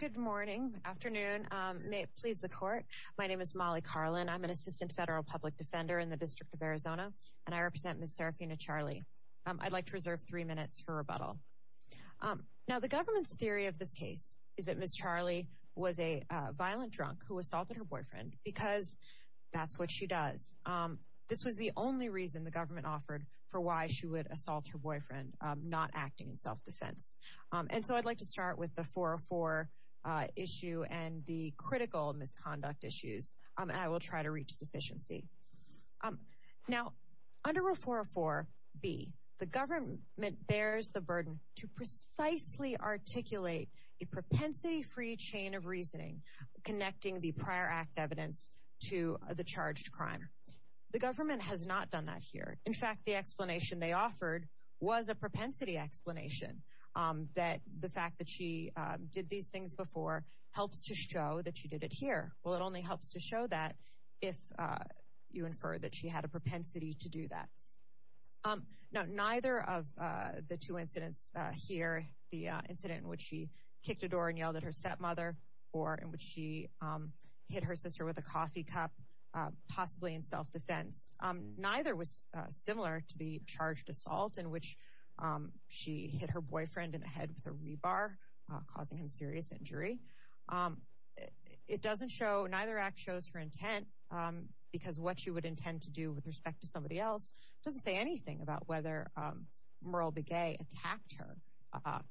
Good morning, afternoon, may it please the court. My name is Molly Carlin. I'm an assistant federal public defender in the District of Arizona and I represent Miss Seraphina Charley. I'd like to reserve three minutes for rebuttal. Now the government's theory of this case is that Miss Charley was a violent drunk who assaulted her boyfriend because that's what she does. This was the only reason the government offered for why she would assault her boyfriend, not acting in self-defense. And so I'd like to start with the 404 issue and the critical misconduct issues and I will try to reach sufficiency. Now under Rule 404B, the government bears the burden to precisely articulate a propensity-free chain of reasoning connecting the prior act evidence to the charged crime. The government has not done that here. In fact, the explanation they offered was a direct explanation that the fact that she did these things before helps to show that she did it here. Well it only helps to show that if you infer that she had a propensity to do that. Now neither of the two incidents here, the incident in which she kicked a door and yelled at her stepmother or in which she hit her sister with a coffee cup, possibly in self-defense, neither was similar to the hit her boyfriend in the head with a rebar causing him serious injury. It doesn't show, neither act shows her intent because what she would intend to do with respect to somebody else doesn't say anything about whether Merle Begay attacked her,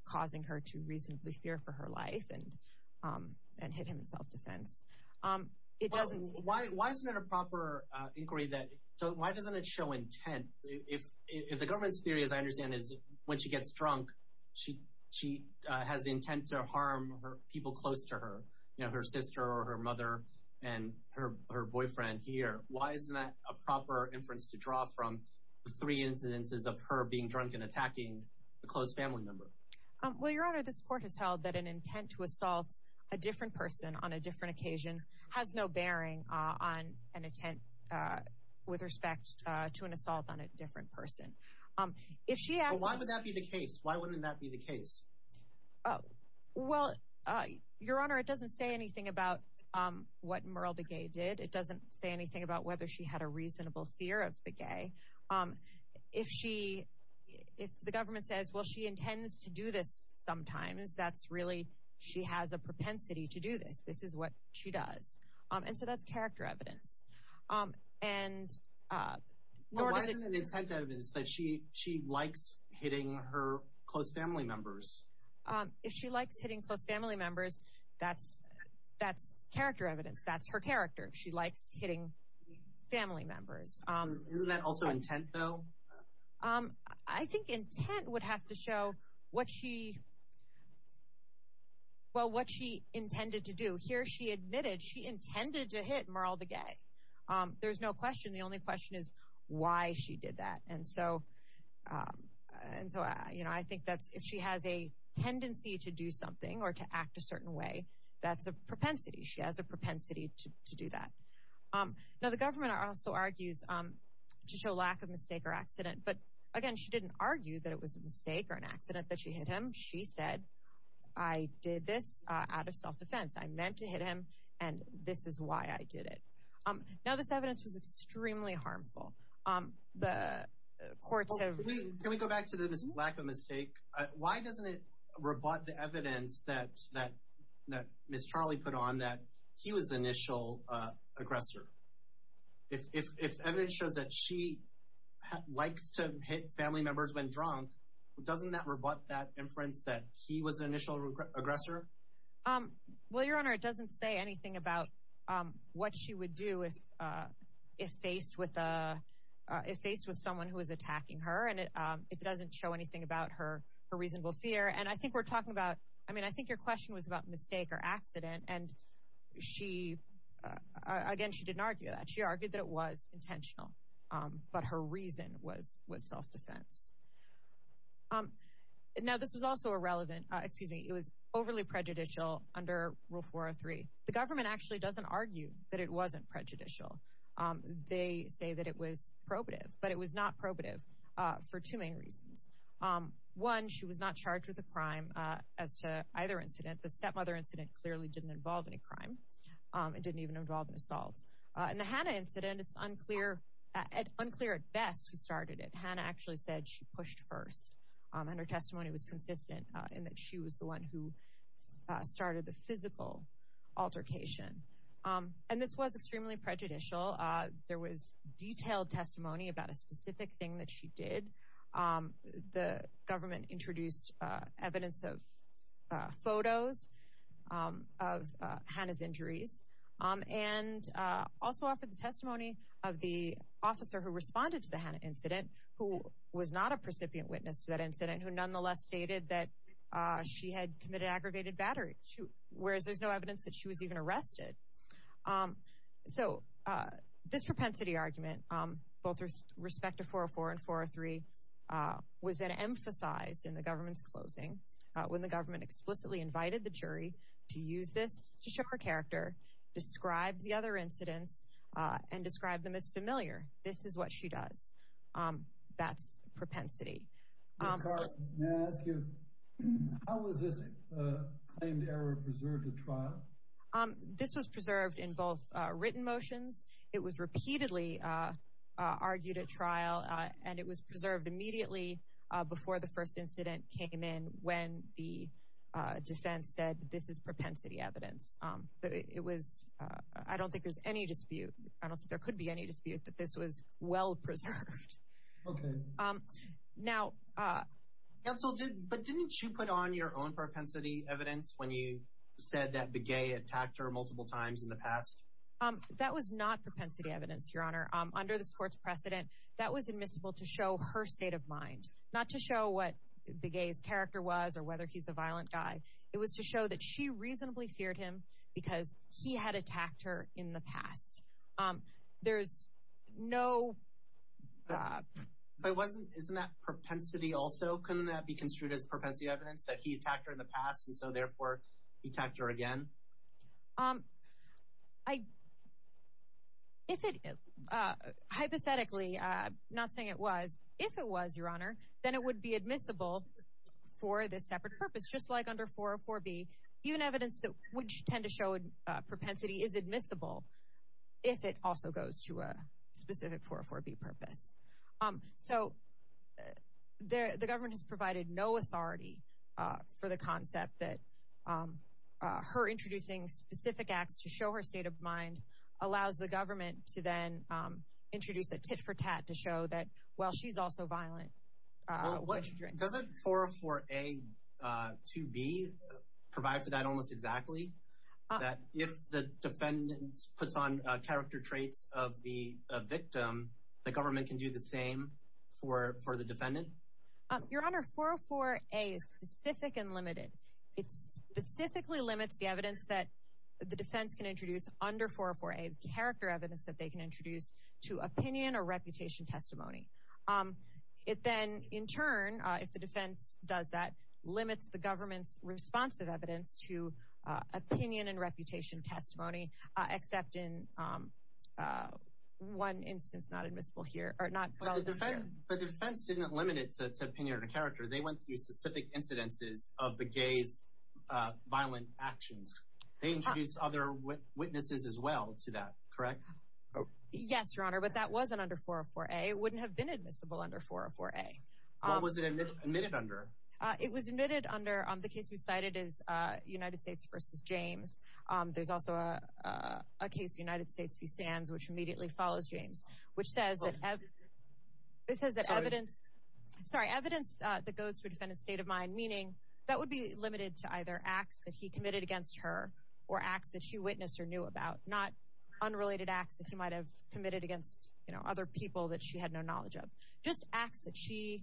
causing her to reasonably fear for her life and hit him in self-defense. Why isn't there a proper inquiry that, so why doesn't it show intent? If the government's theory, as I understand, is when she gets drunk she has intent to harm people close to her, you know, her sister or her mother and her boyfriend here. Why isn't that a proper inference to draw from the three incidences of her being drunk and attacking a close family member? Well Your Honor, this court has held that an intent to assault a different person on a different person. Why would that be the case? Why wouldn't that be the case? Well, Your Honor, it doesn't say anything about what Merle Begay did. It doesn't say anything about whether she had a reasonable fear of Begay. If she, if the government says, well, she intends to do this sometimes, that's really, she has a propensity to do this. This is what she does. And so that's character evidence. And she likes hitting her close family members. If she likes hitting close family members, that's, that's character evidence. That's her character. She likes hitting family members. Isn't that also intent though? I think intent would have to show what she, well, what she intended to do. Here she admitted she intended to hit Merle Begay. There's no question. The only question is why she did that. And so, and so, you know, I think that's, if she has a tendency to do something or to act a certain way, that's a propensity. She has a propensity to do that. Now, the government also argues to show lack of mistake or accident. But again, she didn't argue that it was a mistake or an accident that she hit him. She said, I did this out of self-defense. I meant to hit him and this is why I did it. Now, this evidence was extremely harmful. The courts have... Can we go back to the lack of mistake? Why doesn't it rebut the evidence that, that, that Ms. Charlie put on that he was the initial aggressor? If, if, if evidence shows that she likes to hit family members when drunk, doesn't that rebut that inference that he was the initial aggressor? Well, Your Honor, it doesn't say anything about what she would do if, if faced with a, if faced with someone who is attacking her. And it, it doesn't show anything about her, her reasonable fear. And I think we're talking about, I mean, I think your question was about mistake or accident. And she, again, she didn't argue that. She argued that it was intentional. But her reason was, was self-defense. Now, this was also irrelevant, excuse me, it was overly prejudicial under Rule 403. The government actually doesn't argue that it wasn't prejudicial. They say that it was probative, but it was not probative for two main reasons. One, she was not charged with a crime as to either incident. The stepmother incident clearly didn't involve any crime. It didn't even involve an assault. In the Hannah incident, it's unclear, unclear at best who started it. Hannah actually said she pushed first. And her testimony was consistent in that she was the one who started the physical altercation. And this was extremely prejudicial. There was detailed testimony about a specific thing that she did. The government introduced evidence of photos of Hannah's injuries. And also offered the testimony of the officer who responded to the Hannah incident, who was not a precipient witness to that incident, who nonetheless stated that she had committed aggravated battery, whereas there's no evidence that she was even arrested. So, this propensity argument, both with respect to 404 and 403, was then emphasized in the government's closing, when the described the other incidents and described them as familiar. This is what she does. That's propensity. Ms. Carlton, may I ask you, how was this claimed error preserved at trial? This was preserved in both written motions. It was repeatedly argued at trial, and it was preserved immediately before the first incident came in, when the defense said, this is propensity evidence. It was, I don't think there's any dispute, I don't think there could be any dispute, that this was well preserved. Okay. Now... Counsel, but didn't you put on your own propensity evidence when you said that Begay attacked her multiple times in the past? That was not propensity evidence, Your Honor. Under this court's precedent, that was admissible to show her state of mind, not to show what Begay's character was, or whether he's a violent guy. It was to show that she reasonably feared him, because he had attacked her in the past. There's no... But wasn't, isn't that propensity also, couldn't that be construed as propensity evidence, that he attacked her in the past, and so therefore, he attacked her again? Um, I, if it, hypothetically, not saying it was, if it was, Your Honor, then it would be a separate purpose, just like under 404-B, even evidence that would tend to show propensity is admissible, if it also goes to a specific 404-B purpose. So, the government has provided no authority for the concept that her introducing specific acts to show her state of mind allows the government to then introduce a tit-for-tat to show that, well, she's also violent when she drinks. Doesn't 404-A-2-B provide for that almost exactly? That if the defendant puts on character traits of the victim, the government can do the same for, for the defendant? Your Honor, 404-A is specific and limited. It specifically limits the evidence that the defense can introduce under 404-A, character evidence that they can introduce to opinion or reputation testimony. It then, in turn, if the defense does that, limits the government's response of evidence to opinion and reputation testimony, except in one instance not admissible here, or not relevant here. But the defense didn't limit it to opinion or character. They went through specific incidences of the gay's violent actions. They introduced other witnesses as well to that, correct? Yes, Your Honor, but that wasn't under 404-A. It wouldn't have been admissible under 404-A. What was it admitted under? It was admitted under the case we've cited is United States v. James. There's also a case, United States v. Sands, which immediately follows James, which says that evidence, sorry, evidence that goes to a defendant's state of mind, meaning that would be limited to either acts that he committed against her or acts that she witnessed or knew about, not unrelated acts that he might have committed against, you know, other people that she had no knowledge of. Just acts that she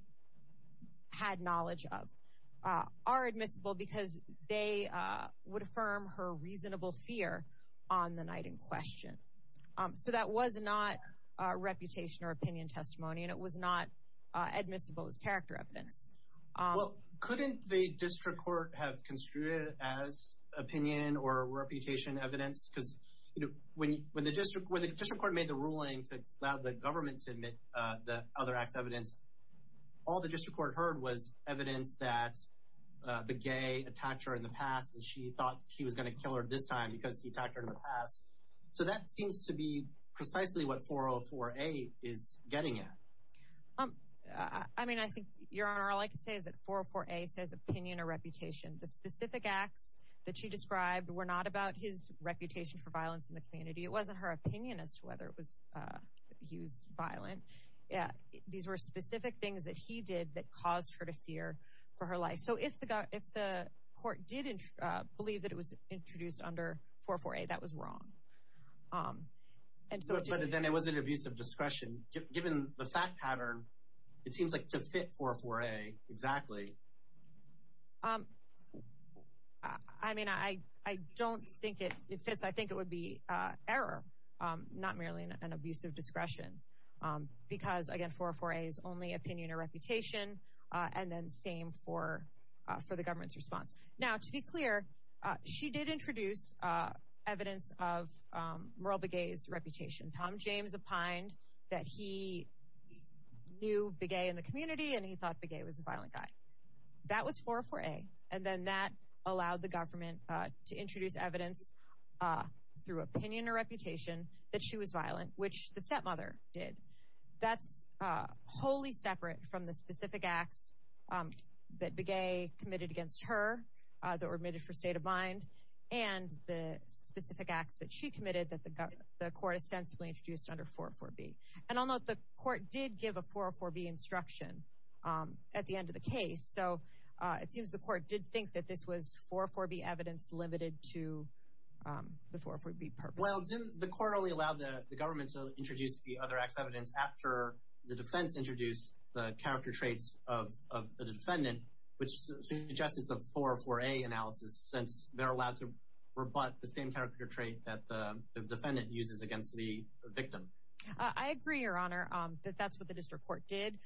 had knowledge of are admissible because they would affirm her reasonable fear on the night in question. So that was not reputation or opinion testimony, and it was not admissible as character evidence. Well, couldn't the district court have construed it as opinion or reputation evidence? Because, you know, when the district court made the ruling to allow the government to admit the other act's evidence, all the district court heard was evidence that the gay attacked her in the past and she thought she was going to kill her this time because he attacked her in the past. So that seems to be precisely what 404-A is getting at. I mean, I think, Your Honor, all I can say is that 404-A says opinion or reputation. The specific acts that she described were not about his reputation for violence in the community. It wasn't her opinion as to whether he was violent. These were specific things that he did that caused her to fear for her life. So if the court did believe that it was introduced under 404-A, that was it seems like to fit 404-A exactly. I mean, I don't think it fits. I think it would be error, not merely an abusive discretion, because, again, 404-A is only opinion or reputation, and then same for the government's response. Now, to be clear, she did introduce evidence of new big gay in the community, and he thought big gay was a violent guy. That was 404-A, and then that allowed the government to introduce evidence through opinion or reputation that she was violent, which the stepmother did. That's wholly separate from the specific acts that big gay committed against her that were admitted for state of mind and the specific acts that she committed that the court ostensibly introduced under 404-B. And I'll note the court did give a 404-B instruction at the end of the case, so it seems the court did think that this was 404-B evidence limited to the 404-B purpose. Well, didn't the court only allow the government to introduce the other acts evidence after the defense introduced the character traits of the defendant, which suggests it's a 404-A analysis, since they're allowed to rebut the same uses against the victim. I agree, Your Honor, that that's what the district court did.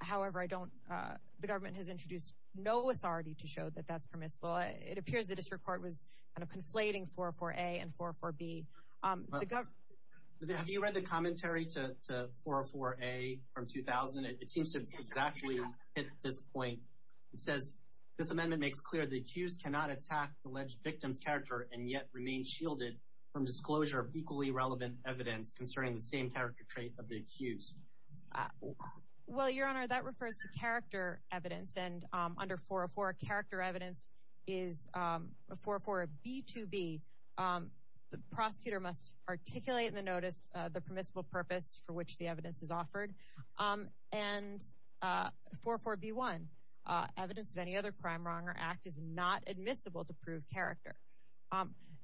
However, the government has introduced no authority to show that that's permissible. It appears the district court was kind of conflating 404-A and 404-B. Have you read the commentary to 404-A from 2000? It seems to have exactly hit this point. It says, this amendment makes clear the accused cannot attack the alleged victim's character and yet remain shielded from disclosure of equally relevant evidence concerning the same character trait of the accused. Well, Your Honor, that refers to character evidence, and under 404, character evidence is a 404-B2-B. The prosecutor must articulate in the notice the permissible purpose for which the evidence is offered. And 404-B1, evidence of any other crime, wrong, or act is not admissible to prove character.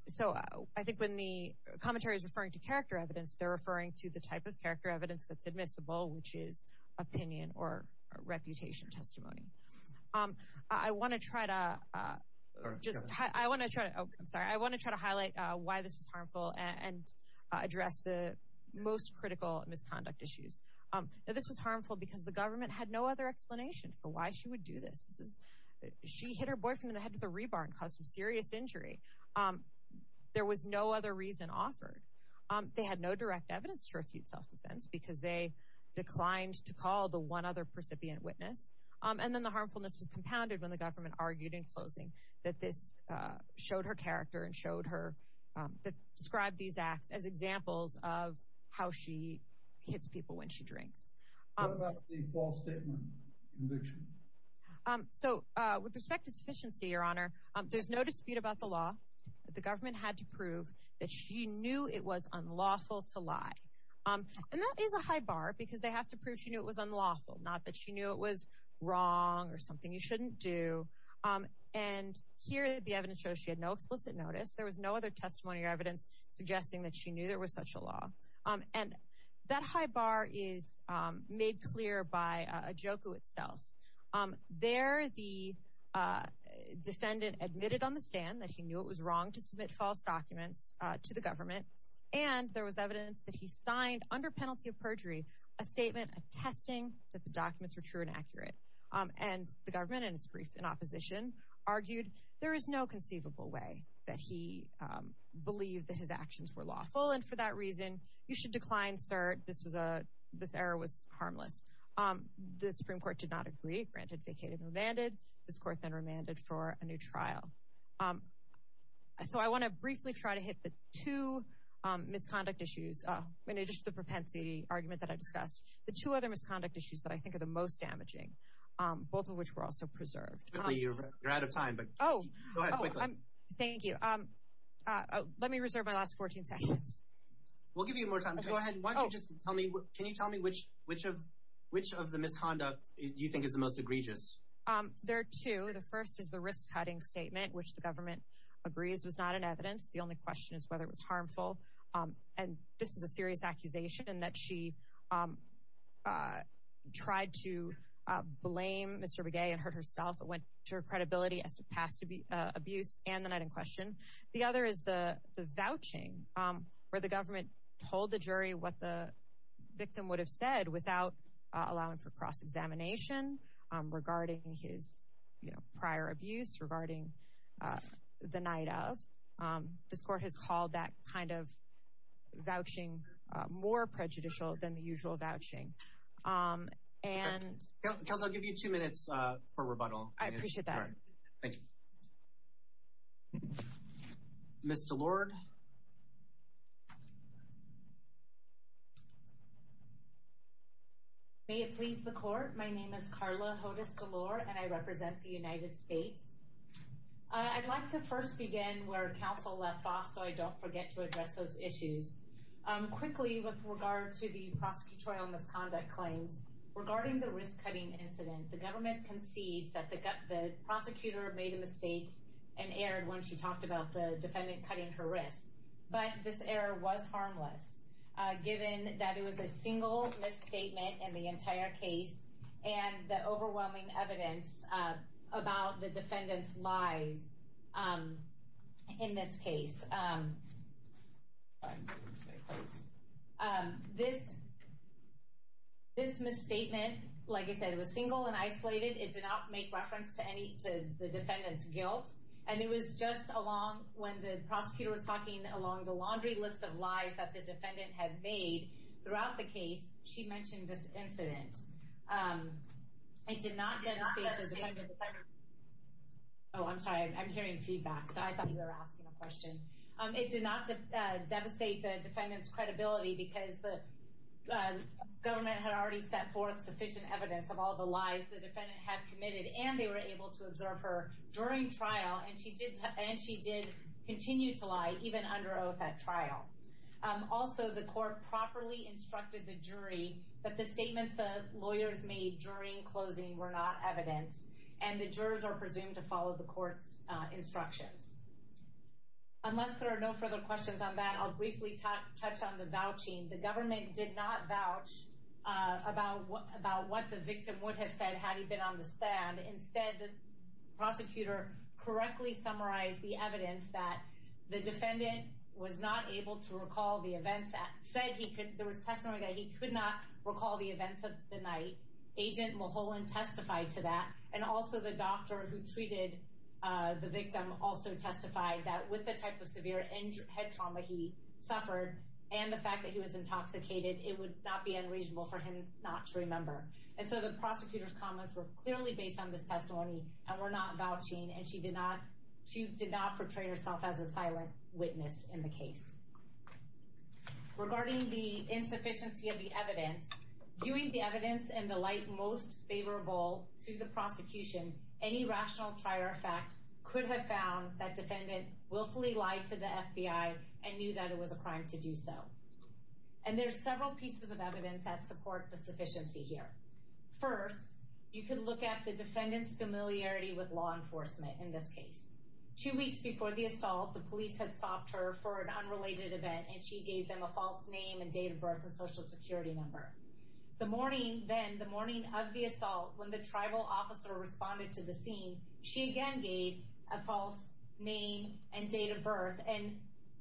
So I think when the commentary is referring to character evidence, they're referring to the type of character evidence that's admissible, which is opinion or reputation testimony. I want to try to highlight why this was harmful and address the most critical misconduct issues. This was harmful because the government had no other explanation for why she would do this. She hit her boyfriend in the head with a rebar and caused some serious injury. There was no other reason offered. They had no direct evidence to refute self-defense because they declined to call the one other percipient witness. And then the harmfulness was compounded when the government argued in closing that this showed her character and showed her, that described these acts as examples of how she hits people when she drinks. What about the false statement conviction? So with respect to sufficiency, Your Honor, there's no dispute about the law, but the government had to prove that she knew it was unlawful to lie. And that is a high bar because they have to prove she knew it was unlawful, not that she knew it was wrong or something you shouldn't do. And here, the evidence shows she had no explicit notice. There was no other testimony or evidence suggesting that she knew there was such a law. And that high bar is made clear by Ajoku itself. There, the defendant admitted on the stand that he knew it was wrong to submit false documents to the government. And there was evidence that he signed under penalty of perjury, a statement attesting that the documents were true and accurate. And the government, in its brief in opposition, argued there is no conceivable way that he believed that his actions were lawful. And for that reason, you should decline, sir. This error was harmless. The Supreme Court did not agree. Granted, vacated and remanded. This court then remanded for a new trial. So I want to briefly try to hit the two misconduct issues, in addition to the propensity argument that I discussed, the two other misconduct issues that I think are the most damaging, both of which were also preserved. Quickly, you're out of time, but go ahead quickly. Thank you. Let me reserve my last 14 seconds. We'll give you more time. Go ahead. Why don't you just tell me, can you tell me which of the misconduct do you think is the most egregious? There are two. The first is the risk-cutting statement, which the government agrees was not in evidence. The only question is whether it was harmful. And this was a serious accusation, in that she tried to blame Mr. Begay and hurt herself. It went to her credibility as to past abuse and the night in question. The other is the vouching, where the government told the jury what the victim would have said without allowing for cross-examination regarding his prior abuse, regarding the night of. This court has called that kind of vouching more prejudicial than the usual vouching. Okay. Counsel, I'll give you two minutes for rebuttal. I appreciate that. Thank you. Ms. DeLorde. May it please the court, my name is Carla Hodes DeLorde, and I represent the United States. I'd like to first begin where counsel left off, so I don't forget to address those issues. Quickly, with regard to the prosecutorial misconduct claims, regarding the risk-cutting incident, the government concedes that the prosecutor made a mistake and erred when she talked about the defendant cutting her wrist. But this error was harmless, given that it was a single misstatement in the entire case, and the overwhelming evidence about the defendant's lies in this case. This misstatement, like I said, it was single and isolated. It did not make reference to any to the defendant's guilt, and it was just along when the prosecutor was talking along the laundry list of lies that the defendant had made throughout the case, she mentioned this incident. It did not devastate the defendant's credibility because the government had already set forth sufficient evidence of all the lies the defendant had committed, and they were able to observe her during trial, and she did continue to lie even under oath at trial. Also, the court properly instructed the jury that the statements the lawyers made during closing were not evidence, and the jurors are presumed to follow the court's instructions. Unless there are no further questions on that, I'll briefly touch on the vouching. The government did not vouch about what the victim would have said had he been on the stand. Instead, the prosecutor correctly summarized the evidence that the defendant was not able to recall the events. There was testimony that he could not recall the events of the night. Agent Mulholland testified to that, and also the doctor who treated the victim also testified that with the type of severe head trauma he suffered and the fact that he was intoxicated, it would not be unreasonable for him not to remember, and so the prosecutor's comments were clearly based on this testimony and were not vouching, and she did not portray herself as a silent witness in the case. Regarding the insufficiency of the evidence, viewing the evidence in the light most favorable to the prosecution, any rational trier of fact could have found that defendant willfully lied to the FBI and knew that it was a crime to do so. And there's several pieces of evidence that support the sufficiency here. First, you can look at the defendant's familiarity with law enforcement in this case. Two weeks before the assault, the police had stopped her for an unrelated event, and she gave them a false name and date of birth and social security number. The morning then, the morning of the assault, when the tribal officer responded to the scene, she again gave a false name and date of birth, and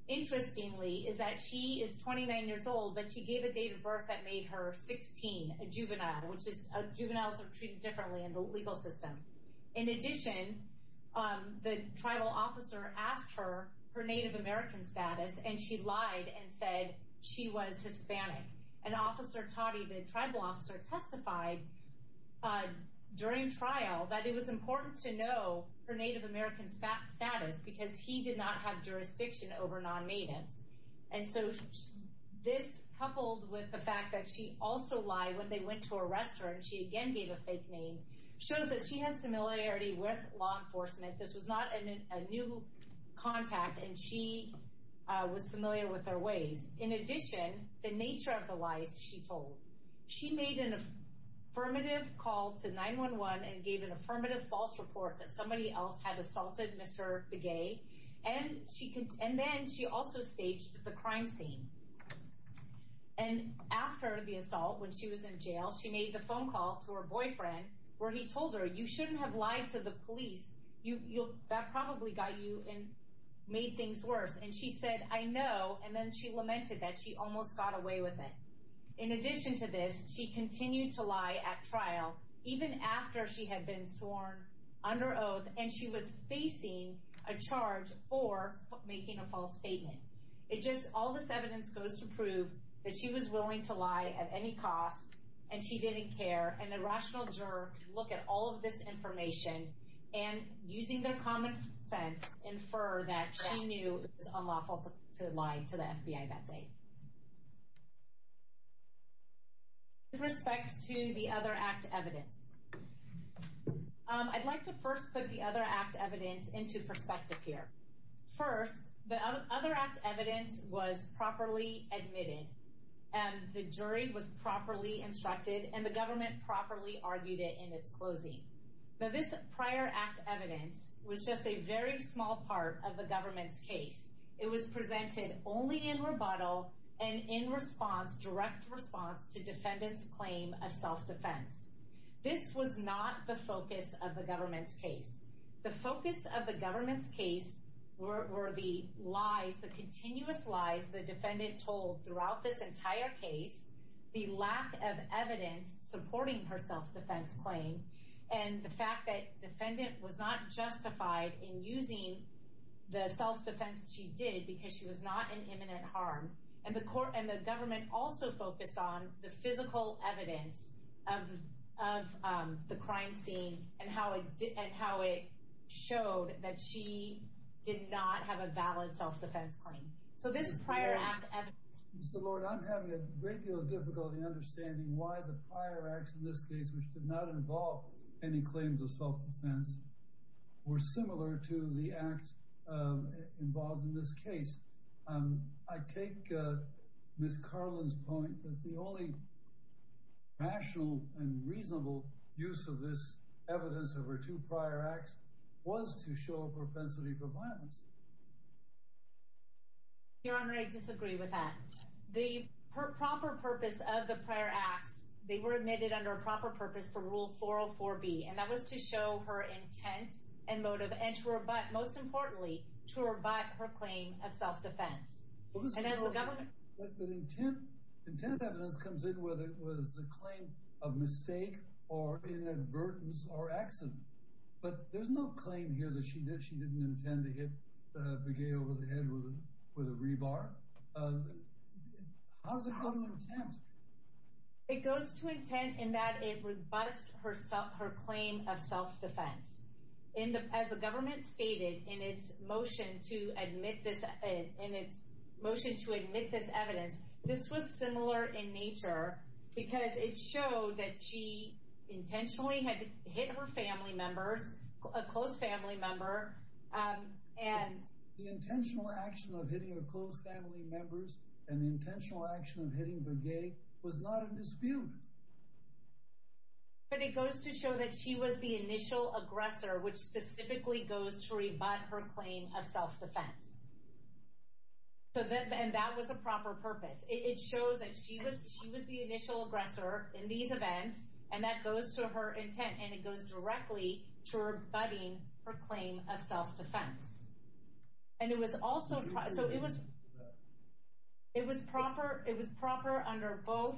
interestingly is that she is 29 years old, but she gave a date of birth that made her 16, a juvenile, which is juveniles are treated differently in the legal system. In addition, the tribal officer asked her her Native American status, and she lied and said she was Hispanic. And Officer Totti, the tribal officer, testified during trial that it was important to know her Native American status because he did not have jurisdiction over non-natives. And so this, coupled with the fact that she also lied when they went to arrest her, and she again gave a fake name, shows that she has familiarity with law enforcement. This was not a new contact, and she was familiar with their ways. In addition, the nature of the lies she told. She made an affirmative call to 911 and gave an affirmative false report that somebody else had assaulted Mr. Begay, and then she also staged the crime scene. And after the assault, when she was in jail, she made the phone call to her boyfriend, where he told her, you shouldn't have lied to the police. That probably got you and made things worse. And she said, I know, and then she lamented that she almost got away with it. In addition to this, she continued to lie at trial, even after she had been sworn under oath, and she was facing a charge for making a false statement. It just, all this evidence goes to prove that she was willing to lie at any cost, and she didn't care, and a rational juror can look at all of this information, and using their common sense, infer that she knew it was unlawful to lie to the FBI that day. With respect to the other act evidence, I'd like to first put the other act evidence into perspective here. First, the other act evidence was properly admitted, and the jury was properly instructed, and the government properly argued it in its closing. Now, this prior act evidence was just a very small part of the government's case. It was presented only in rebuttal and in response, direct response, to defendants' claim of self-defense. This was not the focus of the government's case. The focus of the government's case were the lies, the continuous lies the defendant told throughout this entire case, the lack of evidence supporting her self-defense claim, and the fact that defendant was not justified in using the self-defense she did because she was not an imminent harm, and the court and the government also focused on the physical evidence of the showed that she did not have a valid self-defense claim. So this is prior act evidence. Mr. Lord, I'm having a great deal of difficulty understanding why the prior acts in this case, which did not involve any claims of self-defense, were similar to the acts involved in this case. I take Ms. Carlin's point that the only rational and reasonable use of this evidence of her two prior acts was to show a propensity for violence. Your Honor, I disagree with that. The proper purpose of the prior acts, they were admitted under a proper purpose for Rule 404B, and that was to show her intent and motive and to rebut, most importantly, to rebut her claim of self-defense. But intent evidence comes in whether it was the claim of mistake or inadvertence or accident. But there's no claim here that she didn't intend to hit Begay over the head with a rebar. How does it go to intent? It goes to intent in that it rebuts her claim of self-defense. As the government stated in its motion to admit this evidence, this was similar in nature because it showed that she intentionally had hit her family members, a close family member, and the intentional action of hitting her close family members and the intentional action of hitting Begay was not a dispute. But it goes to show that she was the initial aggressor, which specifically goes to rebut her claim of self-defense. And that was a proper purpose. It shows that she was the initial aggressor in these events, and that goes to her intent, and it goes directly to rebutting her claim of self-defense. And it was also, so it was proper, it was proper under both,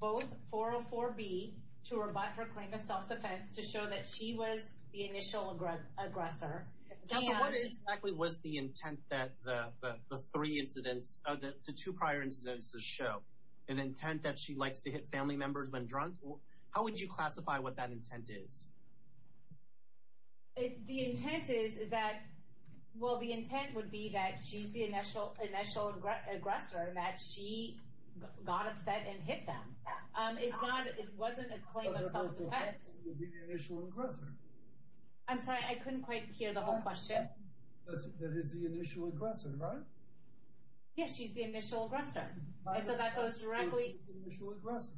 both 404B to rebut her claim of self-defense to show that she was the initial aggressor. Councilwoman, what exactly was the intent that the three incidents, the two prior incidents show? An intent that she likes to hit family members when drunk? How would you classify what that intent is? The intent is, is that, well, the intent would be that she's the initial, initial aggressor, that she got upset and hit them. It's not, it wasn't a claim of self-defense. I'm sorry, I couldn't quite hear the whole question. That is the initial aggressor, right? Yes, she's the initial aggressor. And so that goes directly to the initial aggressor.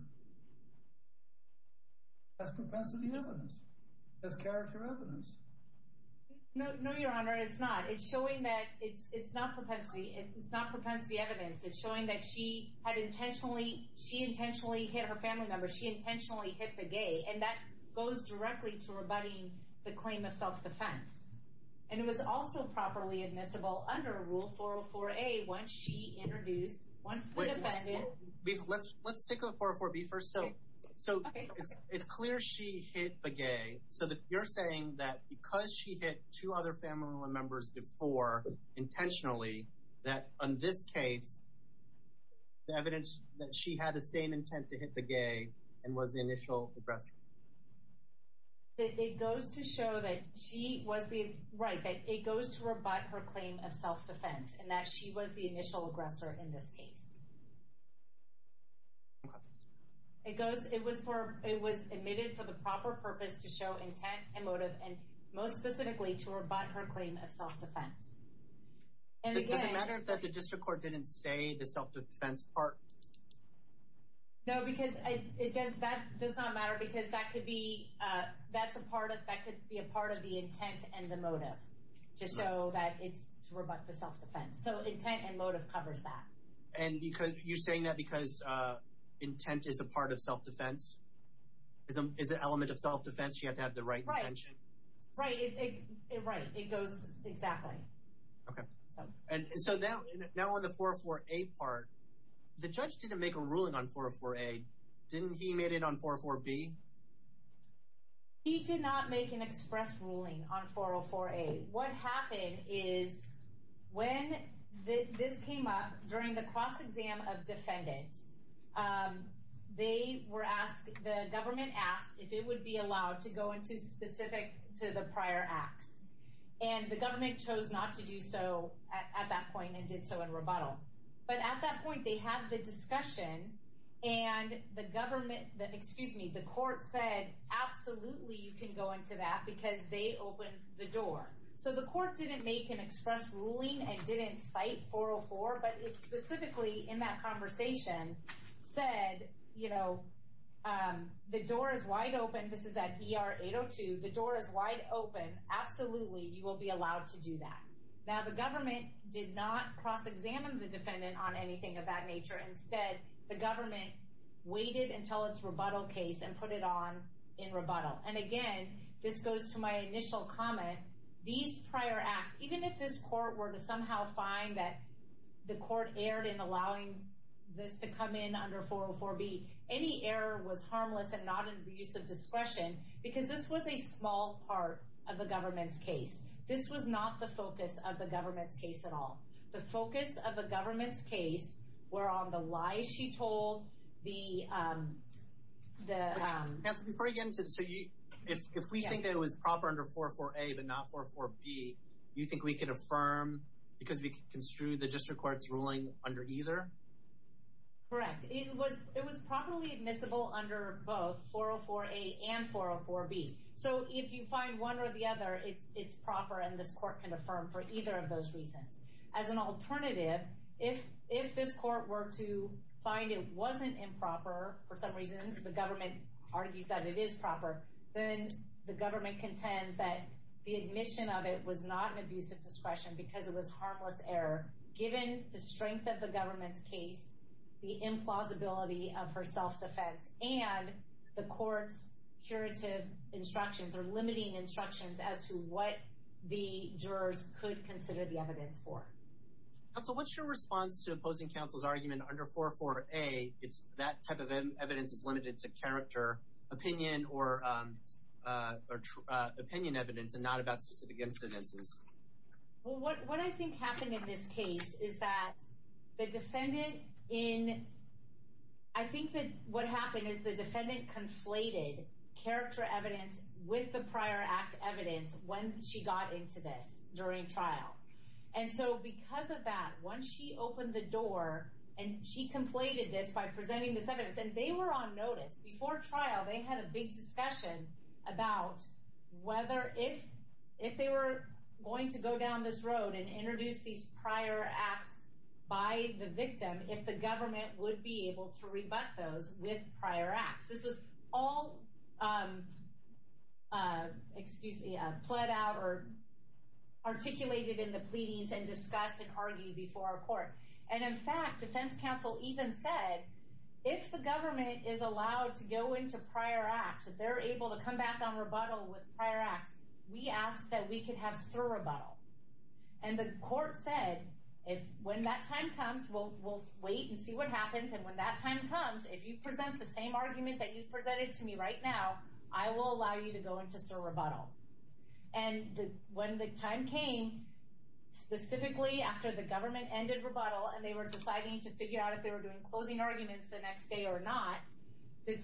That's propensity evidence. That's character evidence. No, Your Honor, it's not. It's showing that it's, it's not propensity, it's not propensity evidence. It's showing that she had intentionally, she intentionally hit her family members. She intentionally hit the gay, and that goes directly to rebutting the claim of self-defense. And it was also properly admissible under Rule 404A, once she introduced, once the defendant. Let's, let's stick with 404B first. So, so it's clear she hit the gay. So you're saying that because she hit two other family members before, intentionally, that on this case, the evidence that she had the same intent to hit the gay and was the initial aggressor. It goes to show that she was the, right, that it goes to rebut her claim of self-defense, and that she was the initial aggressor in this case. It goes, it was for, it was admitted for the proper purpose to show intent and motive, and most specifically to rebut her claim of self-defense. And it doesn't matter that the district court didn't say the self-defense part. No, because it does, that does not matter, because that could be, that's a part of, that could be a part of the intent and the motive, just so that it's to rebut the self-defense. So intent and motive covers that. And because, you're saying that because intent is a part of self-defense, is an element of self-defense, you have to have the right intention. Right, right, it goes exactly. Okay, and so now, now on the 404A part, the judge didn't make a ruling on 404A, didn't he made it on 404B? He did not make an express ruling on 404A. What happened is, when this came up, during the cross-exam of defendant, they were asked, the government asked if it would be allowed to go into specific to the prior acts. And the government chose not to do so at that point, and did so in rebuttal. But at that point, they had the discussion, and the government, excuse me, the court said, absolutely, you can go into that, because they opened the door. So the court didn't make an express ruling, and didn't cite 404, but it specifically, in that conversation, said, you know, the door is wide open, this is at ER 802, the door is wide open, absolutely, you will be allowed to do that. Now the government did not cross-examine the defendant on anything of that nature. Instead, the government waited until its rebuttal case, and put it on in rebuttal. And again, this goes to my initial comment, these this to come in under 404B, any error was harmless, and not in the use of discretion, because this was a small part of the government's case. This was not the focus of the government's case at all. The focus of the government's case were on the lies she told, the... If we think that it was proper under 404A, but not 404B, do you think we can affirm, because we construed the district court's ruling under either? Correct. It was properly admissible under both 404A and 404B. So if you find one or the other, it's proper, and this court can affirm for either of those reasons. As an alternative, if this court were to find it wasn't improper, for some reason, the government argues that it is proper, then the government contends that the admission of it was not an abuse of discretion, because it was harmless error, given the strength of the government's case, the implausibility of her self-defense, and the court's curative instructions, or limiting instructions, as to what the jurors could consider the evidence for. Counsel, what's your response to opposing counsel's argument under 404A, it's that type of evidence is limited to character, opinion, or opinion evidence, and not about specific incidences? Well, what I think happened in this case is that the defendant in, I think that what happened is the defendant conflated character evidence with the prior act evidence when she got into this during trial. And so because of that, once she opened the door, and she conflated this by presenting this evidence, and they were on discussion about whether if they were going to go down this road and introduce these prior acts by the victim, if the government would be able to rebut those with prior acts. This was all plead out, or articulated in the pleadings, and discussed and argued before our court. And in fact, defense counsel even said, if the government is allowed to go into prior acts, if they're able to come back on rebuttal with prior acts, we ask that we could have surrebuttal. And the court said, when that time comes, we'll wait and see what happens. And when that time comes, if you present the same argument that you've presented to me right now, I will allow you to go into surrebuttal. And when the time came, specifically after the government ended rebuttal, and they were deciding to figure out if they were doing closing arguments the next day or not, the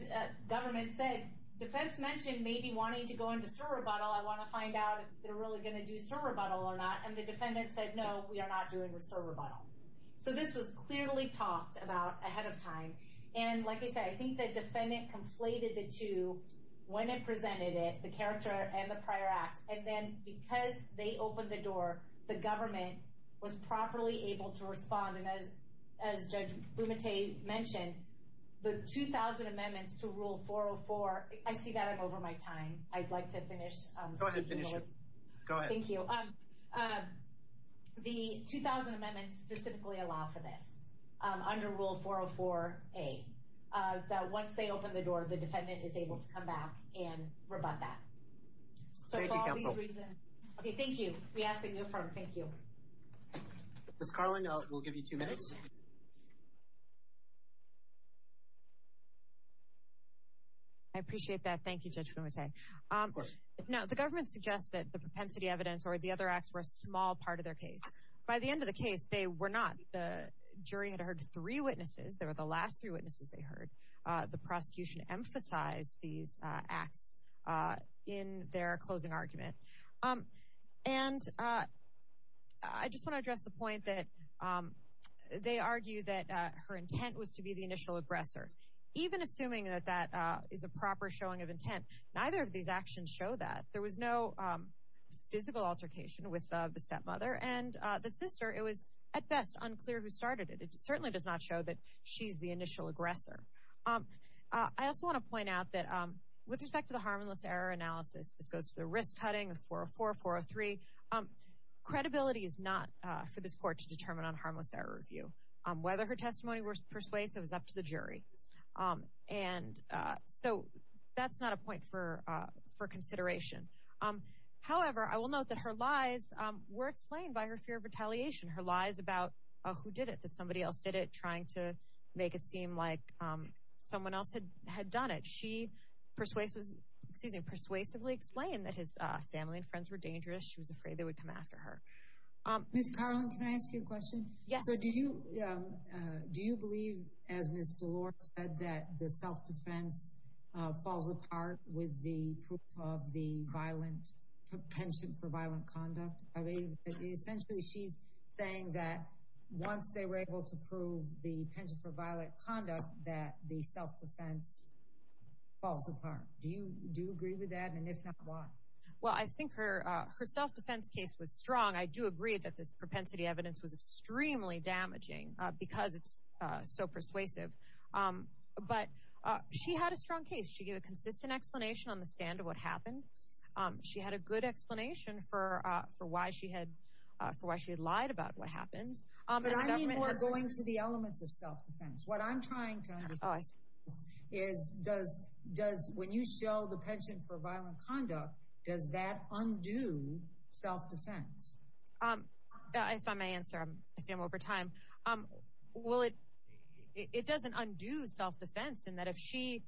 government said, defense mentioned maybe wanting to go into surrebuttal. I want to find out if they're really going to do surrebuttal or not. And the defendant said, no, we are not doing surrebuttal. So this was clearly talked about ahead of time. And like I said, I think the defendant conflated the two when it presented it, the character and the prior act. And then because they opened the door, the government was properly able to respond. And as Judge Bumate mentioned, the 2,000 amendments to Rule 404, I see that I'm over my time. I'd like to finish. Go ahead, finish. Go ahead. Thank you. The 2,000 amendments specifically allow for this, under Rule 404a, that once they open the door, the defendant is able to come back and rebut that. So for all these reasons. Okay, thank you. We ask that you affirm. Thank you. Ms. Carlin, we'll give you two minutes. I appreciate that. Thank you, Judge Bumate. Now, the government suggests that the propensity evidence or the other acts were a small part of their case. By the end of the case, they were not. The jury had heard three witnesses. They were the last three witnesses they heard. The prosecution emphasized these acts in their closing argument. And I just want to address the point that they argue that her intent was to be the initial aggressor. Even assuming that that is a proper showing of intent, neither of these actions show that. There was no physical altercation with the stepmother and the sister. It was, at best, unclear who started it. It certainly does not show that she's the initial aggressor. I also want to point out that with respect to harmless error analysis, this goes to the risk cutting, 404, 403. Credibility is not for this court to determine on harmless error review. Whether her testimony was persuasive is up to the jury. And so that's not a point for consideration. However, I will note that her lies were explained by her fear of retaliation, her lies about who did it, that somebody else did it, make it seem like someone else had done it. She persuasively explained that his family and friends were dangerous. She was afraid they would come after her. Ms. Carlin, can I ask you a question? Yes. So do you believe, as Ms. DeLore said, that the self-defense falls apart with the proof of the violent penchant for violent conduct? Essentially, she's saying that once they were able to prove the penchant for violent conduct, that the self-defense falls apart. Do you agree with that? And if not, why? Well, I think her self-defense case was strong. I do agree that this propensity evidence was extremely damaging because it's so persuasive. But she had a strong case. She gave a consistent explanation on the stand of what happened. She had a good explanation for why she had lied about what happened. But I mean, we're going to the elements of self-defense. What I'm trying to understand is, when you show the penchant for violent conduct, does that undo self-defense? If I may answer, I see I'm over time. Well, it doesn't undo self-defense in that if she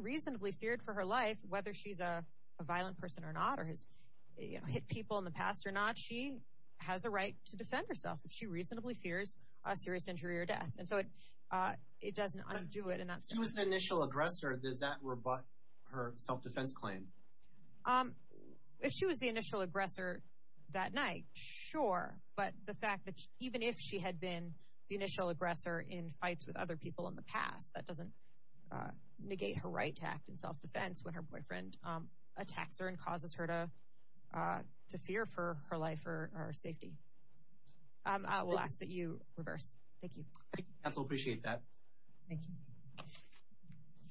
reasonably feared for her life, whether she's a violent person or not, or has hit people in the past or not, she has a right to defend herself if she reasonably fears a serious injury or death. And so it doesn't undo it. If she was the initial aggressor, does that rebut her self-defense claim? If she was the initial aggressor that night, sure. But the fact that even if she had been the initial aggressor in fights with other people in the past, that doesn't negate her right to act in self-defense when her boyfriend attacks her and causes her to fear for her life or her safety. I will ask that you reverse. Thank you. Thank you, counsel. Appreciate that. Thank you.